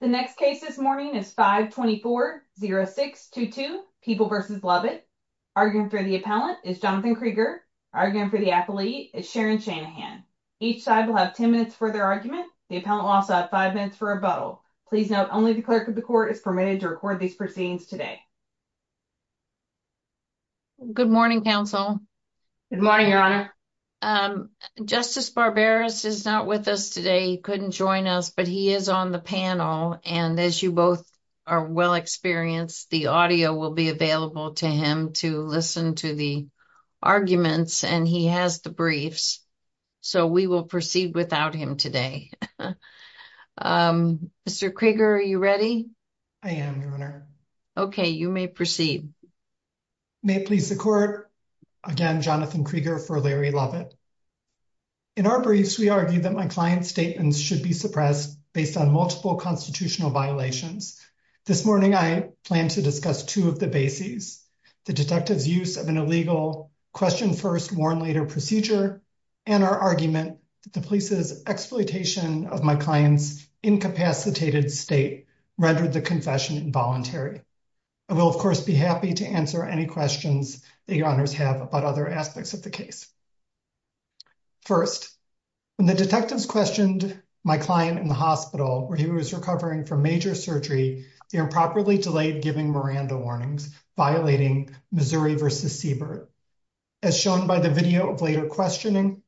The next case this morning is 524-0622, People v. Lovett. Arguing for the appellant is Jonathan Krieger. Arguing for the appellee is Sharon Shanahan. Each side will have 10 minutes for their argument. The appellant will also have 5 minutes for a butthole. Please note, only the clerk of the court is permitted to record these proceedings today. Good morning, counsel. Good morning, your honor. Justice Barbaros is not with us today. He couldn't join us, but he is on the panel and as you both are well experienced, the audio will be available to him to listen to the arguments and he has the briefs. So, we will proceed without him today. Mr. Krieger, are you ready? I am, your honor. Okay, you may proceed. May it please the court. Again, Jonathan Krieger for Larry Lovett. In our briefs, we argue that my client's statements should be suppressed based on multiple constitutional violations. This morning, I plan to discuss two of the bases. The detective's use of an illegal, question first, warn later procedure, and our argument that the police's exploitation of my client's incapacitated state rendered the confession involuntary. I will, of course, be happy to answer any questions that your honors have about other aspects of the case. First, when the detectives questioned my client in the hospital, where he was recovering from major surgery, they were improperly delayed giving Miranda warnings, violating Missouri v. Siebert. As shown by the video of later questioning,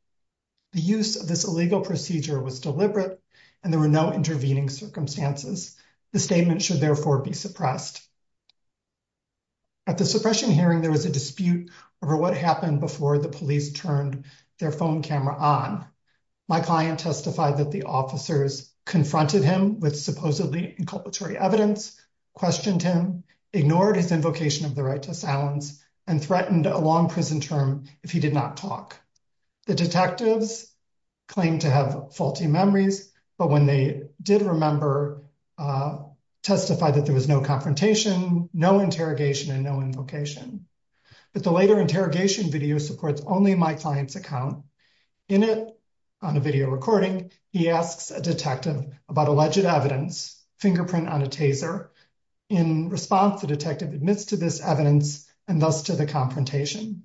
the use of this illegal procedure was deliberate and there were no intervening circumstances. The statement should therefore be suppressed. At the suppression hearing, there was a dispute over what happened before the police turned their phone camera on. My client testified that the officers confronted him with supposedly inculpatory evidence, questioned him, ignored his invocation of the right to silence, and threatened a long prison term if he did not talk. The detectives claimed to have faulty memories, but when they did remember, testified that there was no confrontation, no interrogation, and no invocation. But the later interrogation video supports only my client's account. In it, on a video recording, he asks a detective about alleged evidence, fingerprint on a taser. In response, the detective admits to this evidence and thus to the confrontation.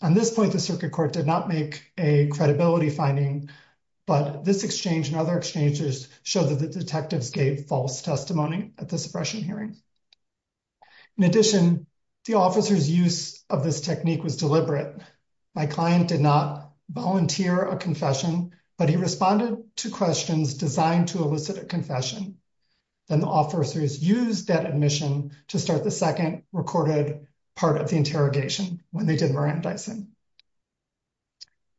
At this point, the circuit court did not make a credibility finding, but this exchange and other exchanges show that the detectives gave false testimony at the suppression hearing. In addition, the officer's use of this technique was deliberate. My client did not volunteer a confession, but he responded to questions designed to elicit a confession. Then the officers used that admission to start the second recorded part of the interrogation when they did Mirandizing.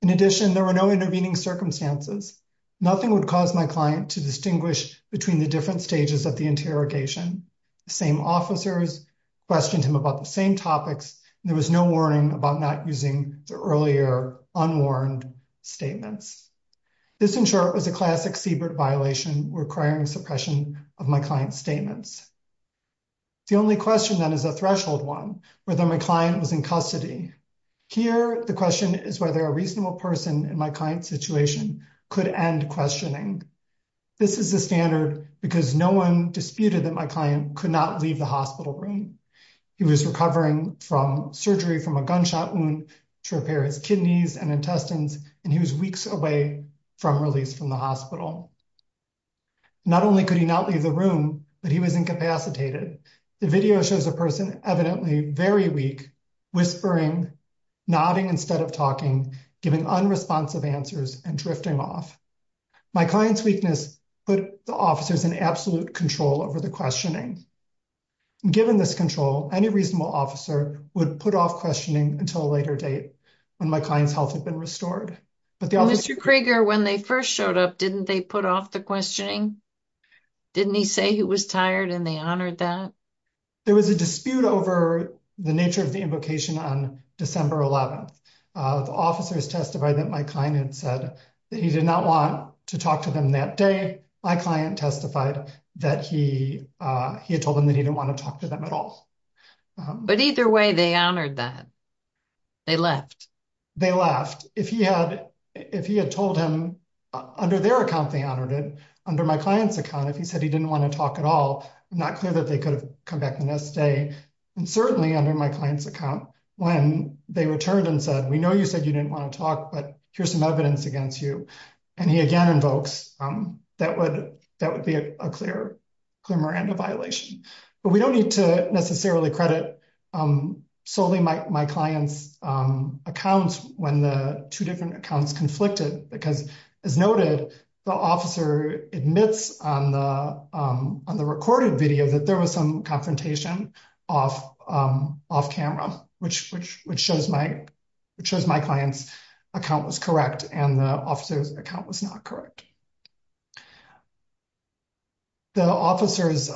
In addition, there were no intervening circumstances. Nothing would cause my client to distinguish between the different stages of the interrogation. The same officers questioned him about the same topics, and there was no warning about not using the earlier unwarned statements. This, in short, was a classic Siebert violation requiring suppression of my client's statements. The only question, then, is a threshold one, whether my client was in custody. Here, the question is whether a reasonable person in my client's situation could end questioning. This is the standard because no one disputed that my client could not leave the hospital room. He was recovering from surgery from a gunshot wound to repair his kidneys and intestines, and he was weeks away from release from the hospital. Not only could he not leave the room, but he was incapacitated. The video shows a person evidently very weak, whispering, nodding instead of talking, giving unresponsive answers, and drifting off. My client's weakness put the officers in absolute control over the questioning. Given this control, any reasonable officer would put off questioning until a later date when my client's health had been restored. Mr. Krieger, when they first showed up, didn't they put off the questioning? Didn't he say he was tired, and they honored that? There was a dispute over the nature of the invocation on December 11th. The officers testified that my client had said that he did not want to talk to them that day. My client testified that he had told them that he didn't want to talk to them at all. But either way, they honored that. They left. If he had told him, under their account, they honored it. Under my client's account, if he said he didn't want to talk at all, it's not clear that they could have come back the next day. And certainly, under my client's account, when they returned and said, we know you said you didn't want to talk, but here's some evidence against you, and he again invokes, that would be a clear Miranda violation. But we don't need to necessarily credit solely my client's accounts when the two different accounts conflicted, because as noted, the officer admits on the recorded video that there was some confrontation off camera, which shows my client's account was correct, and the officer's account was not correct. The officers'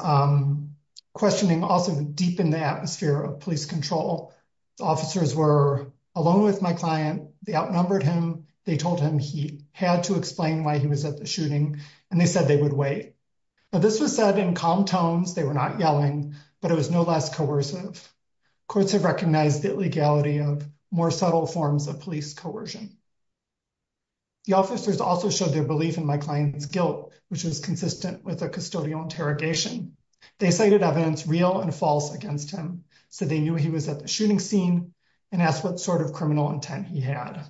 questioning also deepened the atmosphere of police control. The officers were alone with my client. They outnumbered him. They told him he had to explain why he was at the shooting, and they said they would wait, but this was said in calm tones. They were not yelling, but it was no less coercive. Courts have recognized the illegality of more subtle forms of police coercion. The officers also showed their belief in my client's guilt, which was consistent with a custodial interrogation. They cited evidence real and false against him, so they knew he was at the shooting scene and asked what sort of criminal intent he had.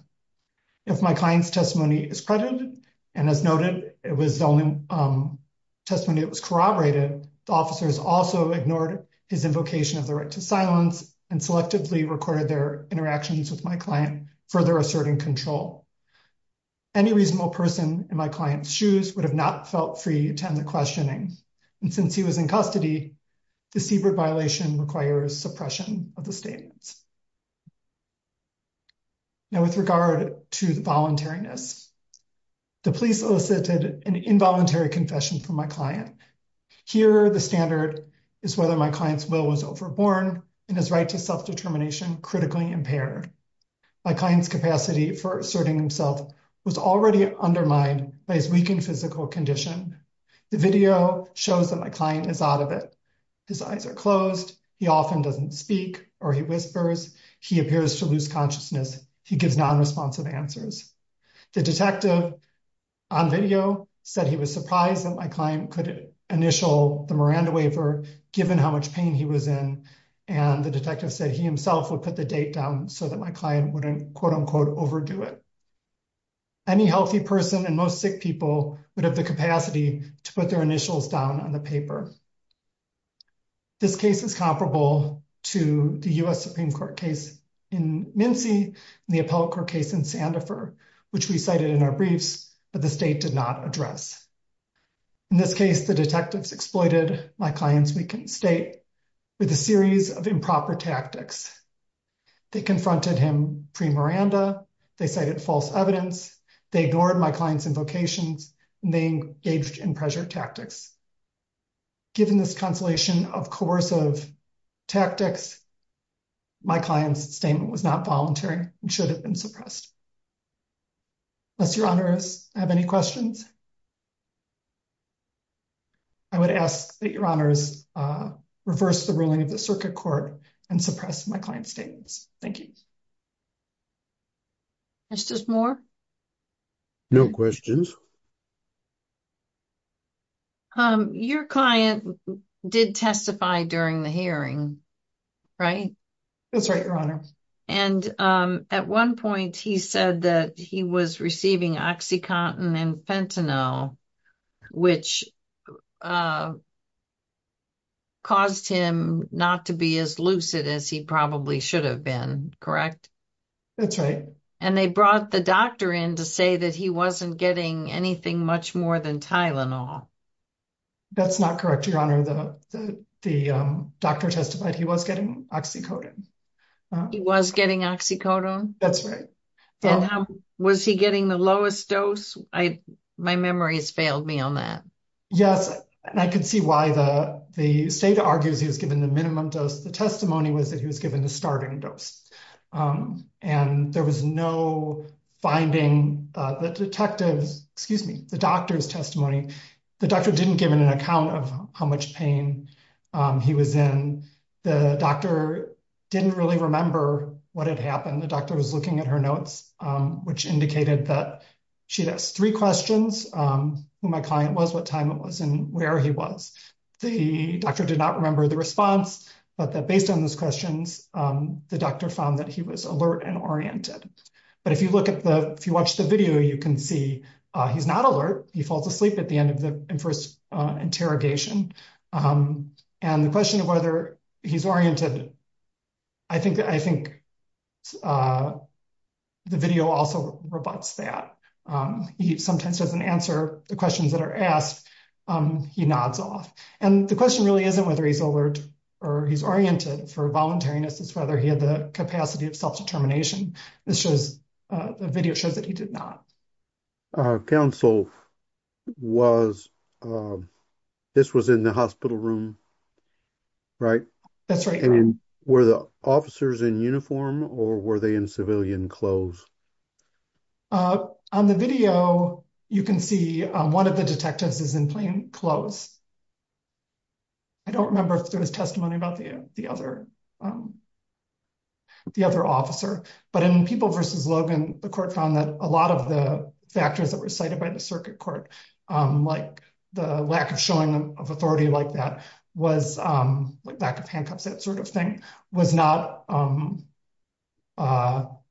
If my client's testimony is credited, and as noted, it was the only testimony that was corroborated, the officers also ignored his invocation of the right to silence and selectively recorded their interactions with my client, further asserting control. Any reasonable person in my client's shoes would have not felt free to attend the questioning, and since he was in custody, the Siebert violation requires suppression of the statements. Now, with regard to the voluntariness, the police elicited an involuntary confession from my client. Here, the standard is whether my client's will was overborne and his right to self-determination critically impaired. My client's capacity for asserting himself was already undermined by his weakened physical condition. The video shows that my client is out of it. His eyes are closed. He often doesn't speak or he whispers. He appears to lose consciousness. He gives non-responsive answers. The detective on video said he was surprised that my client could initial the Miranda waiver, given how much pain he was in, and the detective said he himself would put the date down so that my client wouldn't quote unquote overdo it. Any healthy person and most sick people would have the capacity to put their initials down on the paper. This case is comparable to the US Supreme Court case in Mincy and the appellate court case in Sandifer, which we cited in our briefs, but the state did not address. In this case, the detectives exploited my client's weakened state with a series of improper tactics. They confronted him pre-Miranda, they cited false evidence, they ignored my client's invocations, and they engaged in pressure tactics. Given this constellation of coercive tactics, my client's statement was not voluntary and should have been suppressed. Unless your honors have any questions, I would ask that your honors reverse the ruling of the circuit court and suppress my client's statements. Thank you. Mr. Moore? No questions. Your client did testify during the hearing, right? That's right, your honors. And at one point, he said that he was receiving OxyContin and Fentanyl, which caused him not to be as lucid as he probably should have been, correct? That's right. And they brought the doctor in to say that he wasn't getting anything much more than Tylenol. That's not correct, your honor. The doctor testified he was getting OxyContin. He was getting OxyContin? That's right. And was he getting the lowest dose? My memory has failed me on that. Yes, and I can see why the state argues he was given the minimum dose. The testimony was that he was given the starting dose. And there was no finding the detective's, excuse me, the doctor's testimony. The doctor didn't give an account of how much pain he was in. The doctor didn't really remember what had happened. The doctor was looking at her notes, which indicated that she'd asked three questions, who my client was, what time it was, and where he was. The doctor did not remember the response, but that based on those questions, the doctor found that he was alert and oriented. But if you watch the video, you can see he's not alert. He falls asleep at the end of the first interrogation. And the question of whether he's oriented, I think the video also rebuts that. He sometimes doesn't answer the questions that are asked. He nods off. And the question really isn't whether he's alert or he's oriented for voluntariness, it's whether he had the capacity of self-determination. This shows, the video shows that he did not. Counsel was, this was in the hospital room, right? That's right. And were the officers in uniform or were they in civilian clothes? On the video, you can see one of the detectives is in plain clothes. I don't remember if there was testimony about the other officer, but in People v. Logan, the court found that a lot of the factors that were cited by the circuit court, like the lack of handcuffs, that sort of thing,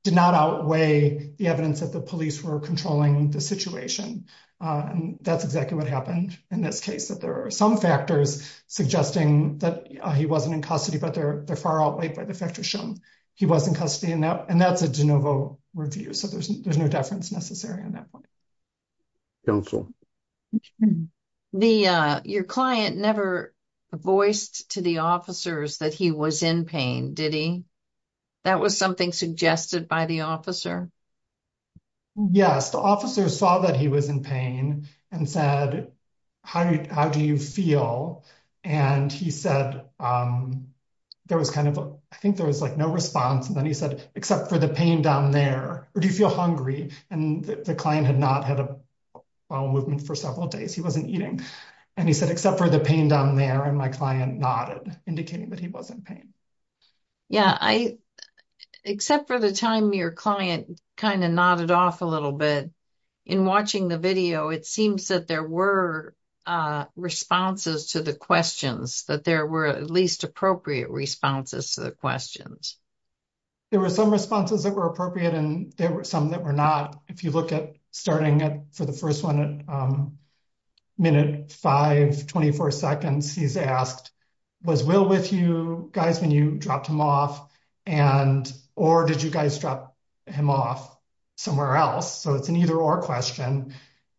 did not outweigh the evidence that the police were controlling the situation. That's exactly what happened in this case, that there are some factors suggesting that he wasn't in custody, but they're far outweighed by the factors shown he was in custody. And that's a de novo review. So there's no deference necessary in that way. Counsel. Your client never voiced to the officers that he was in pain, did he? That was something suggested by the officer? Yes, the officer saw that he was in pain and said, how do you feel? And he said, there was kind of, I think there was like no response. And then he said, except for the pain down there, or do you feel hungry? And the client had not had a bowel movement for several days. He wasn't eating. And he said, except for the pain down there. And my client nodded, indicating that he wasn't in pain. Yeah. Except for the time your client kind of nodded off a little bit in watching the video, it seems that there were responses to the questions, that there were at least appropriate responses to the questions. There were some responses that were appropriate, and there were some that were not. If you look at starting at, for the first one, minute 5, 24 seconds, he's asked, was Will with you guys when you dropped him off? And, or did you guys drop him off somewhere else? So it's an either or question.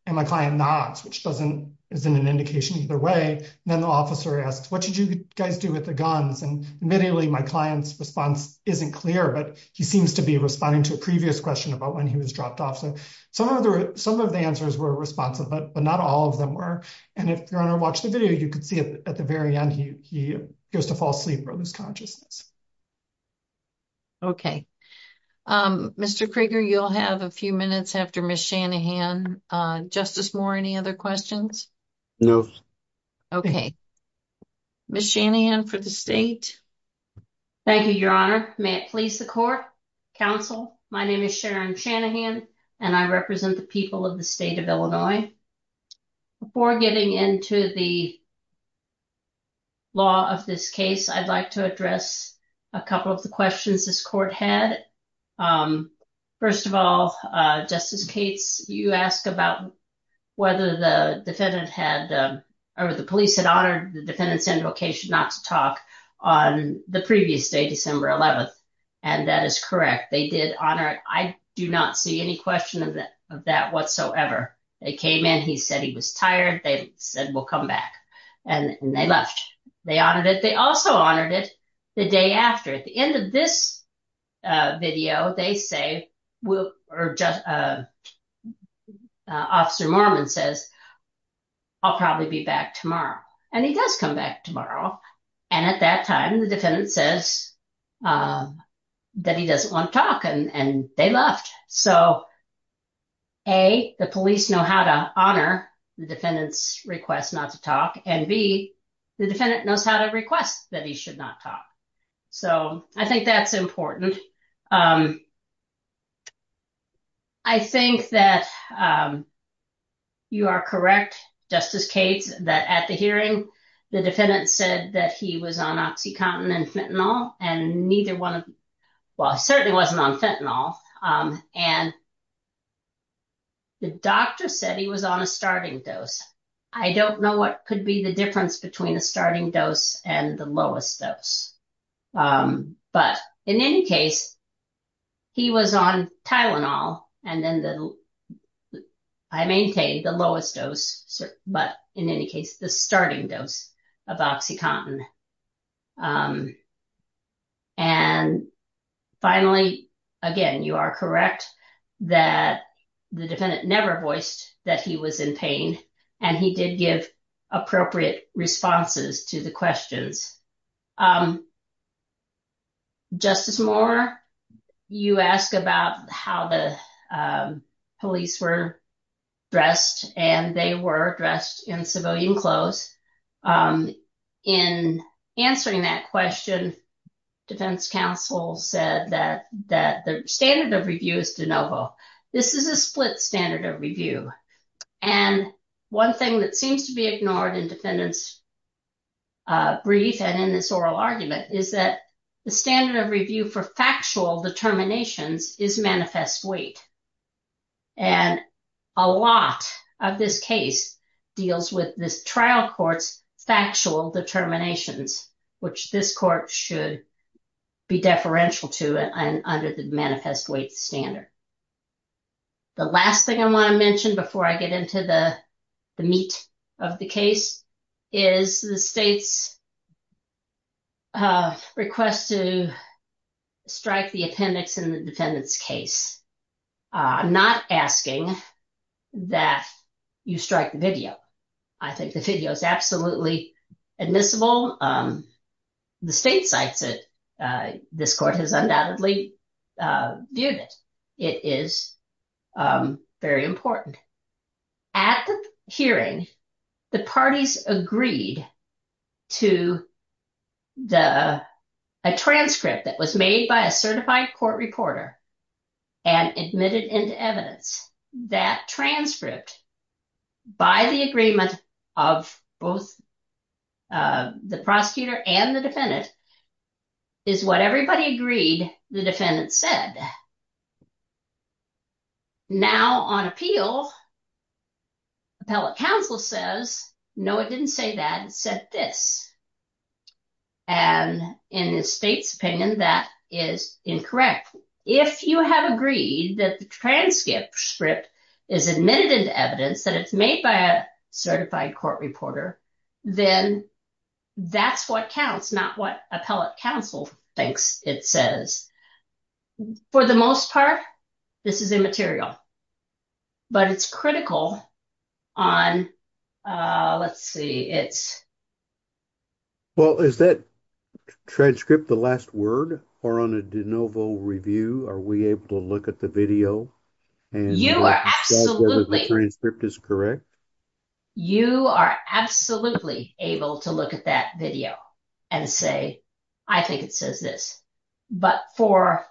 And my client nods, which doesn't, isn't an indication either way. Then the officer asked, what did you guys do with the guns? And admittedly, my client's response isn't clear, but he seems to be responding to a previous question about when he was dropped off. So some of the answers were responsive, but not all of them were. And if you're going to watch the video, you can see at the very end, he goes to fall asleep or lose consciousness. Okay. Mr. Krieger, you'll have a few minutes after Ms. Shanahan. Justice Moore, any other questions? No. Okay. Ms. Shanahan for the state. Thank you, Your Honor. May it please the court, counsel. My name is Sharon Shanahan, and I represent the people of the state of Illinois. Before getting into the law of this case, I'd like to address a couple of the questions this court had. First of all, Justice Cates, you asked about whether the defendant had, or the police had honored the defendant's invocation not to talk on the previous day, December 11th. And that is correct. They did honor it. I do not see any question of that whatsoever. They came in, he said he was tired. They said, we'll come back. And they left. They honored it. They also honored it the day after. At the end of this video, they say, or Officer Mormon says, I'll probably be back tomorrow. And he does come back tomorrow. And at that time, the defendant says that he doesn't want to talk and they left. So A, the police know how to honor the defendant's request not to talk. And B, the defendant knows how to request that he should not talk. So I think that's important. I think that you are correct, Justice Cates, that at the hearing, the defendant said that he was on OxyContin and Fentanyl. And neither one of, well, he certainly wasn't on Fentanyl. And the doctor said he was on a starting dose. I don't know what could be the difference between a starting dose and the lowest dose. But in any case, he was on Tylenol. And then I maintain the lowest dose, but in any case, the starting dose of OxyContin. And finally, again, you are correct that the defendant never voiced that he was in pain. And he did give appropriate responses to the questions. Justice Moore, you asked about how the police were dressed. And they were dressed in civilian clothes. In answering that question, defense counsel said that the standard of review is de novo. This is a split standard of review. And one thing that seems to be ignored in defendant's brief and in this oral argument is that the standard of review for factual determinations is manifest weight. And a lot of this case deals with this trial court's factual determinations, which this court should be deferential to under the manifest weight standard. The last thing I want to mention before I get into the meat of the case is the state's request to strike the appendix in the defendant's case. I'm not asking that you strike the video. I think the video is absolutely admissible. The state cites it. This court has undoubtedly viewed it. It is very important. At the hearing, the parties agreed to a transcript that was made by a certified court reporter and admitted into evidence. That transcript, by the agreement of both the prosecutor and the defendant, is what everybody agreed the defendant said. Now, on appeal, appellate counsel says, no, it didn't say that. It said this. And in the state's opinion, that is incorrect. If you have agreed that the transcript is admitted into evidence that it's made by a certified court reporter, then that's what counts, not what appellate counsel thinks it says. For the most part, this is immaterial. But it's critical on, let's see, it's... Well, is that transcript the last word? Or on a de novo review, are we able to look at the video? You are absolutely... The transcript is correct? You are absolutely able to look at that video and say, I think it says this. But for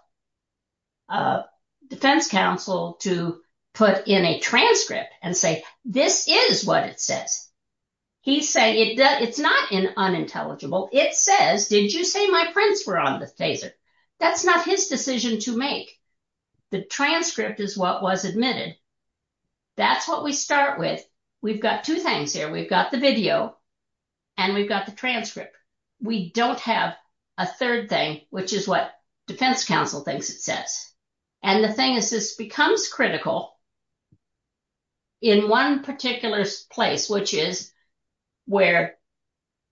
defense counsel to put in a transcript and say, this is what it says. He's saying it's not unintelligible. It says, did you say my prints were on the taser? That's not his decision to make. The transcript is what was admitted. That's what we start with. We've got two things here. We've got the video and we've got the transcript. We don't have a third thing, which is what defense counsel thinks it says. And the thing is, this becomes critical in one particular place, which is where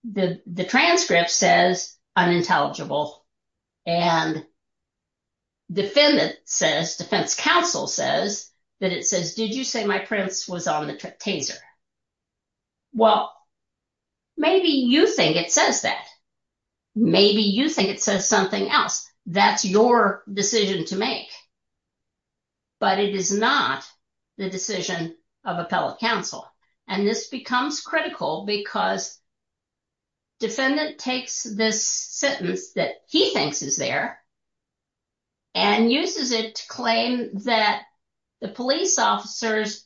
the transcript says unintelligible and defendant says, defense counsel says that it says, did you say my prints was on the taser? Well, maybe you think it says that. Maybe you think it says something else. That's your decision to make. But it is not the decision of appellate counsel. And this becomes critical because defendant takes this sentence that he thinks is there and uses it to claim that the police officer's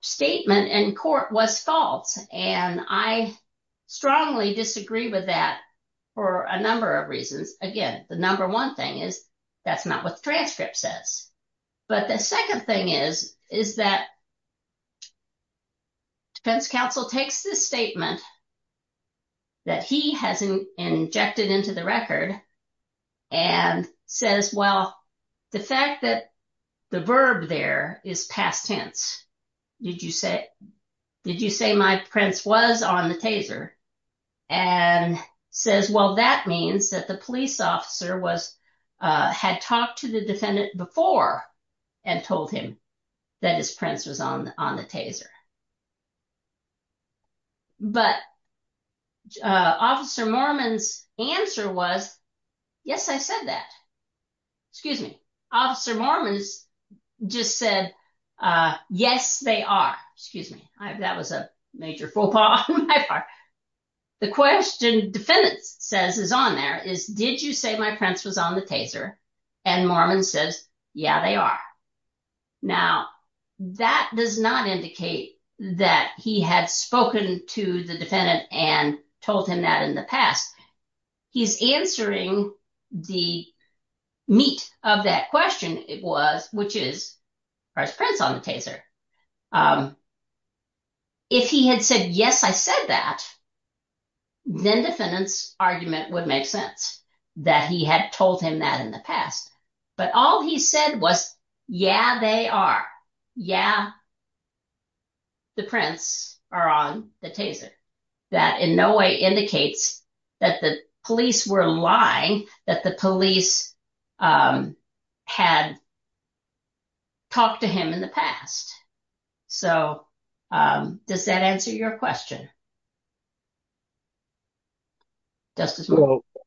statement in court was false. And I strongly disagree with that for a number of reasons. Again, the number one thing is that's not what the transcript says. But the second thing is, is that defense counsel takes this statement that he has injected into the record and says, well, the fact that the verb there is past tense. Did you say, did you say my prints was on the taser? And says, well, that means that the police officer was, had talked to the defendant before and told him that his prints was on the taser. But officer Mormon's answer was, yes, I said that, excuse me. Officer Mormons just said, yes, they are, excuse me. I have, that was a major faux pas on my part. The question defendant says is on there is, did you say my prints was on the taser? And Mormon says, yeah, they are. Now, that does not indicate that he had spoken to the defendant and told him that in the past. He's answering the meat of that question. It was, which is first prints on the taser. If he had said, yes, I said that, then defendant's argument would make sense that he had told him that in the past. But all he said was, yeah, they are. Yeah, the prints are on the taser. That in no way indicates that the police were lying, that the police had talked to him in the So does that answer your question? Justice?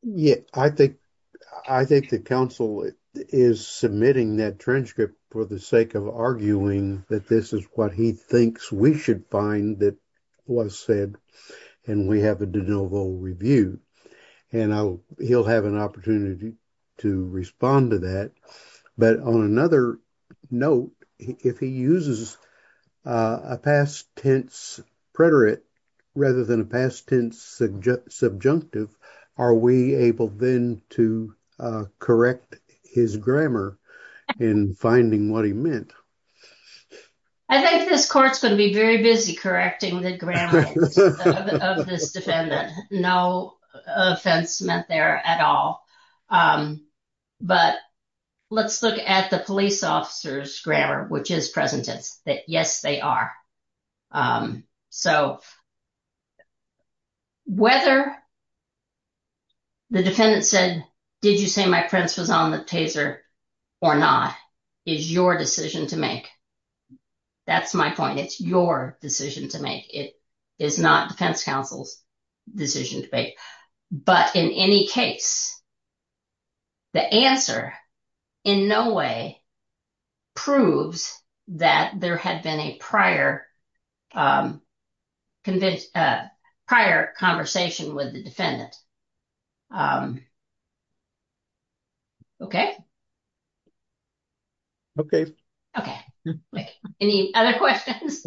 Yeah, I think the council is submitting that transcript for the sake of arguing that this is what he thinks we should find that was said, and we have a de novo review. And he'll have an opportunity to respond to that. But on another note, if he uses a past tense preterite, rather than a past tense subjunctive, are we able then to correct his grammar in finding what he meant? I think this court's going to be very busy correcting the grammar of this defendant. No offense meant there at all. But let's look at the police officer's grammar, which is present tense, that yes, they are. So whether the defendant said, did you say my prints was on the taser or not, is your decision to make. That's my point. It's your decision to make. It is not defense counsel's decision to make. But in any case, the answer in no way proves that there had been a prior conversation with the defendant. Okay. Okay. Okay. Any other questions?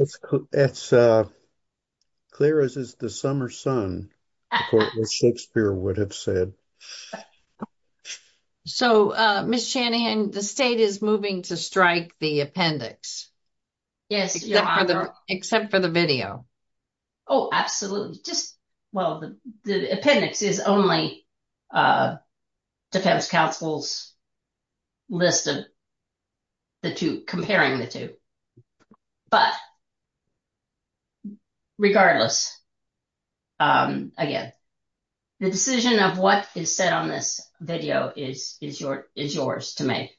It's clear as the summer sun, Shakespeare would have said. So, Ms. Chanahan, the state is moving to strike the appendix. Yes. Except for the video. Oh, absolutely. Just, well, the appendix is only defense counsel's list of the two, comparing the two. But regardless, again, the decision of what is said on this video is yours to make.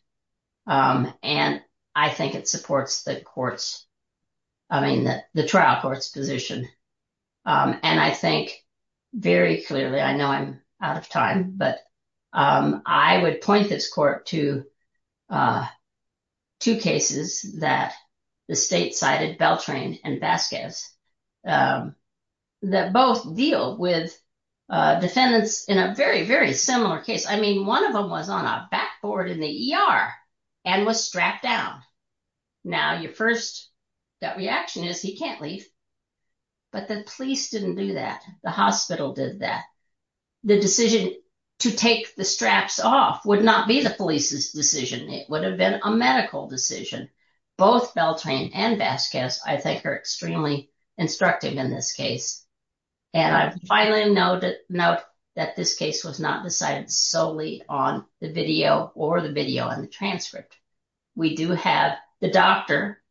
And I think it supports the trial court's position. And I think very clearly, I know I'm out of time, but I would point this court to two cases that the state cited, Beltran and Vasquez, that both deal with defendants in a very, very similar case. I mean, one of them was on a backboard in the ER and was strapped down. Now, your first reaction is he can't leave. But the police didn't do that. The hospital did that. The decision to take the straps off would not be the police's decision. It would have been a medical decision. Both Beltran and Vasquez, I think, are extremely instructive in this case. And I finally note that this case was not decided solely on the video or the video on the transcript. We do have the doctor,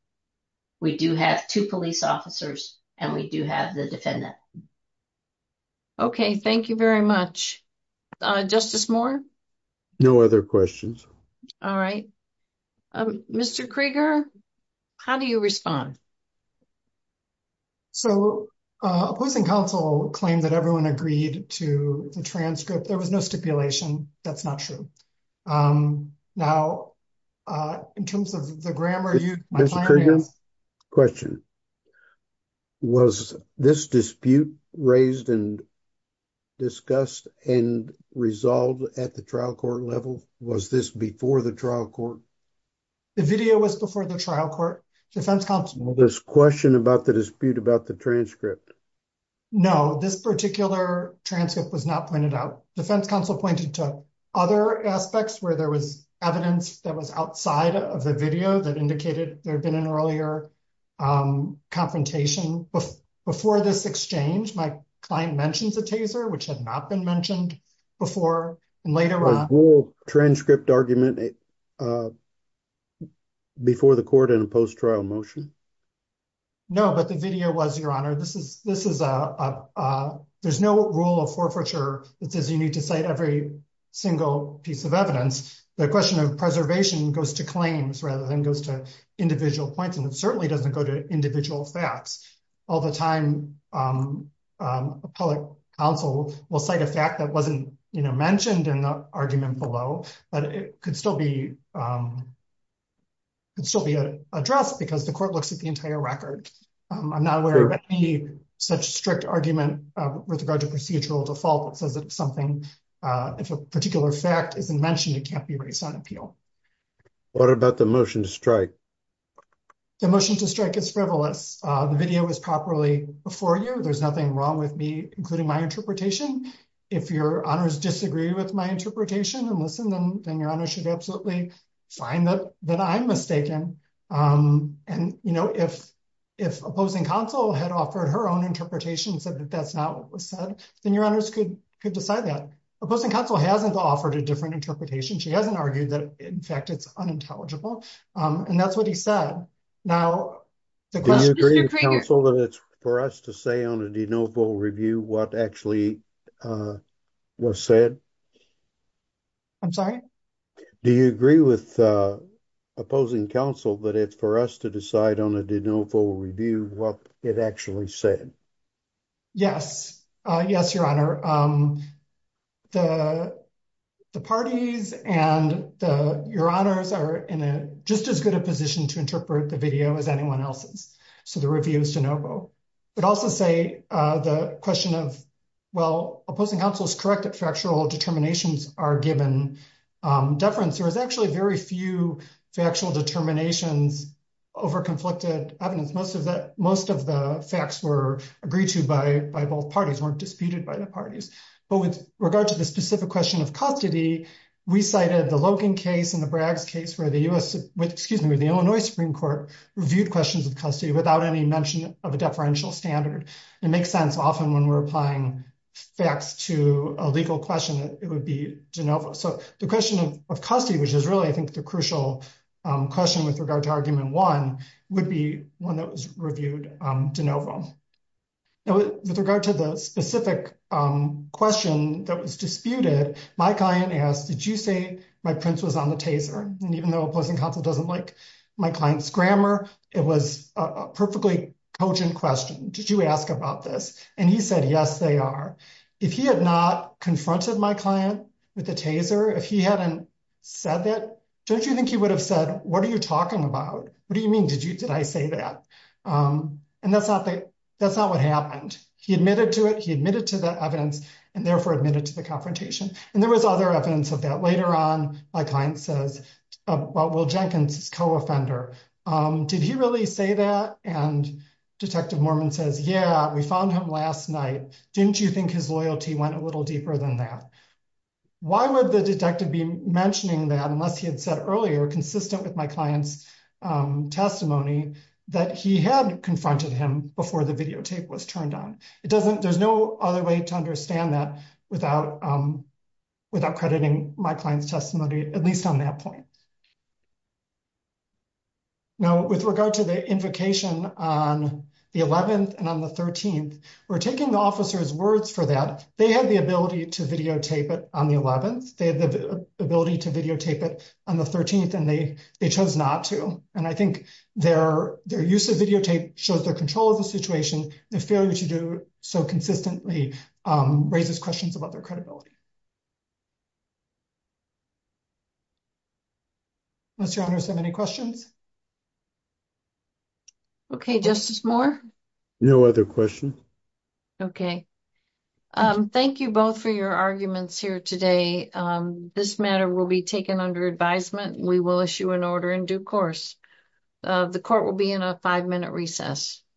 we do have two police officers, and we do have the defendant. Okay. Thank you very much. Justice Moore? No other questions. All right. Mr. Krieger, how do you respond? So opposing counsel claimed that everyone agreed to the transcript. There was no stipulation. That's not true. Now, in terms of the grammar, you- Mr. Krieger, question. Was this dispute raised and discussed and resolved at the trial court level? Was this before the trial court? The video was before the trial court. Defense counsel- There's a question about the dispute about the transcript. No, this particular transcript was not pointed out. Defense counsel pointed to other aspects where there was evidence that was outside of the video that indicated there had been an earlier confrontation. Before this exchange, my client mentions a taser, which had not been mentioned before. And later on- Was the transcript argument before the court in a post-trial motion? No, but the video was, Your Honor. There's no rule of forfeiture that says you need to cite every single piece of evidence. The question of preservation goes to claims rather than goes to individual points, and it certainly doesn't go to individual facts. All the time, a public counsel will cite a fact that wasn't mentioned in the argument below, but it could still be addressed because the court looks at the entire record. I'm not aware of any such strict argument with regard to procedural default that says if a particular fact isn't mentioned, it can't be raised on appeal. What about the motion to strike? The motion to strike is frivolous. The video was properly before you. There's nothing wrong with me including my interpretation. If Your Honors disagree with my interpretation and listen, then Your Honor should absolutely find that I'm mistaken. And if opposing counsel had offered her own interpretation and said that that's not what Opposing counsel hasn't offered a different interpretation. She hasn't argued that, in fact, it's unintelligible. And that's what he said. Now, the question- Do you agree with counsel that it's for us to say on a de novo review what actually was said? I'm sorry? Do you agree with opposing counsel that it's for us to decide on a de novo review what it actually said? Yes. Yes, Your Honor. The parties and Your Honors are in just as good a position to interpret the video as anyone else's. So the review is de novo. But also say the question of, well, opposing counsel is correct that factual determinations are given deference. There is actually very few factual determinations over conflicted evidence. Most of the facts were agreed to by both parties, weren't disputed by the parties. But with regard to the specific question of custody, we cited the Logan case and the Braggs case where the U.S., excuse me, the Illinois Supreme Court reviewed questions of custody without any mention of a deferential standard. It makes sense often when we're applying facts to a legal question, it would be de novo. So the question of custody, which is really, I think, the crucial question with regard to argument one, would be one that was reviewed de novo. Now, with regard to the specific question that was disputed, my client asked, did you say my prince was on the Taser? And even though opposing counsel doesn't like my client's grammar, it was a perfectly cogent question. Did you ask about this? And he said, yes, they are. If he had not confronted my client with the Taser, if he hadn't said that, don't you think he would have said, what are you talking about? What do you mean? Did I say that? And that's not what happened. He admitted to it. He admitted to the evidence and therefore admitted to the confrontation. And there was other evidence of that. Later on, my client says, well, Will Jenkins is co-offender. Did he really say that? And Detective Mormon says, yeah, we found him last night. Didn't you think his loyalty went a little deeper than that? Why would the detective be mentioning that unless he had said earlier, consistent with my client's testimony, that he had confronted him before the videotape was turned on? There's no other way to understand that without crediting my client's testimony, at least on that point. Now, with regard to the invocation on the 11th and on the 13th, we're taking the officer's words for that. They had the ability to videotape it on the 11th. They had the ability to videotape it on the 13th, and they chose not to. And I think their use of videotape shows their control of the situation. The failure to do so consistently raises questions about their credibility. Unless your honors have any questions. Okay, Justice Moore. No other questions. Okay. Thank you both for your arguments here today. This matter will be taken under advisement. We will issue an order in due course. The court will be in a five-minute recess.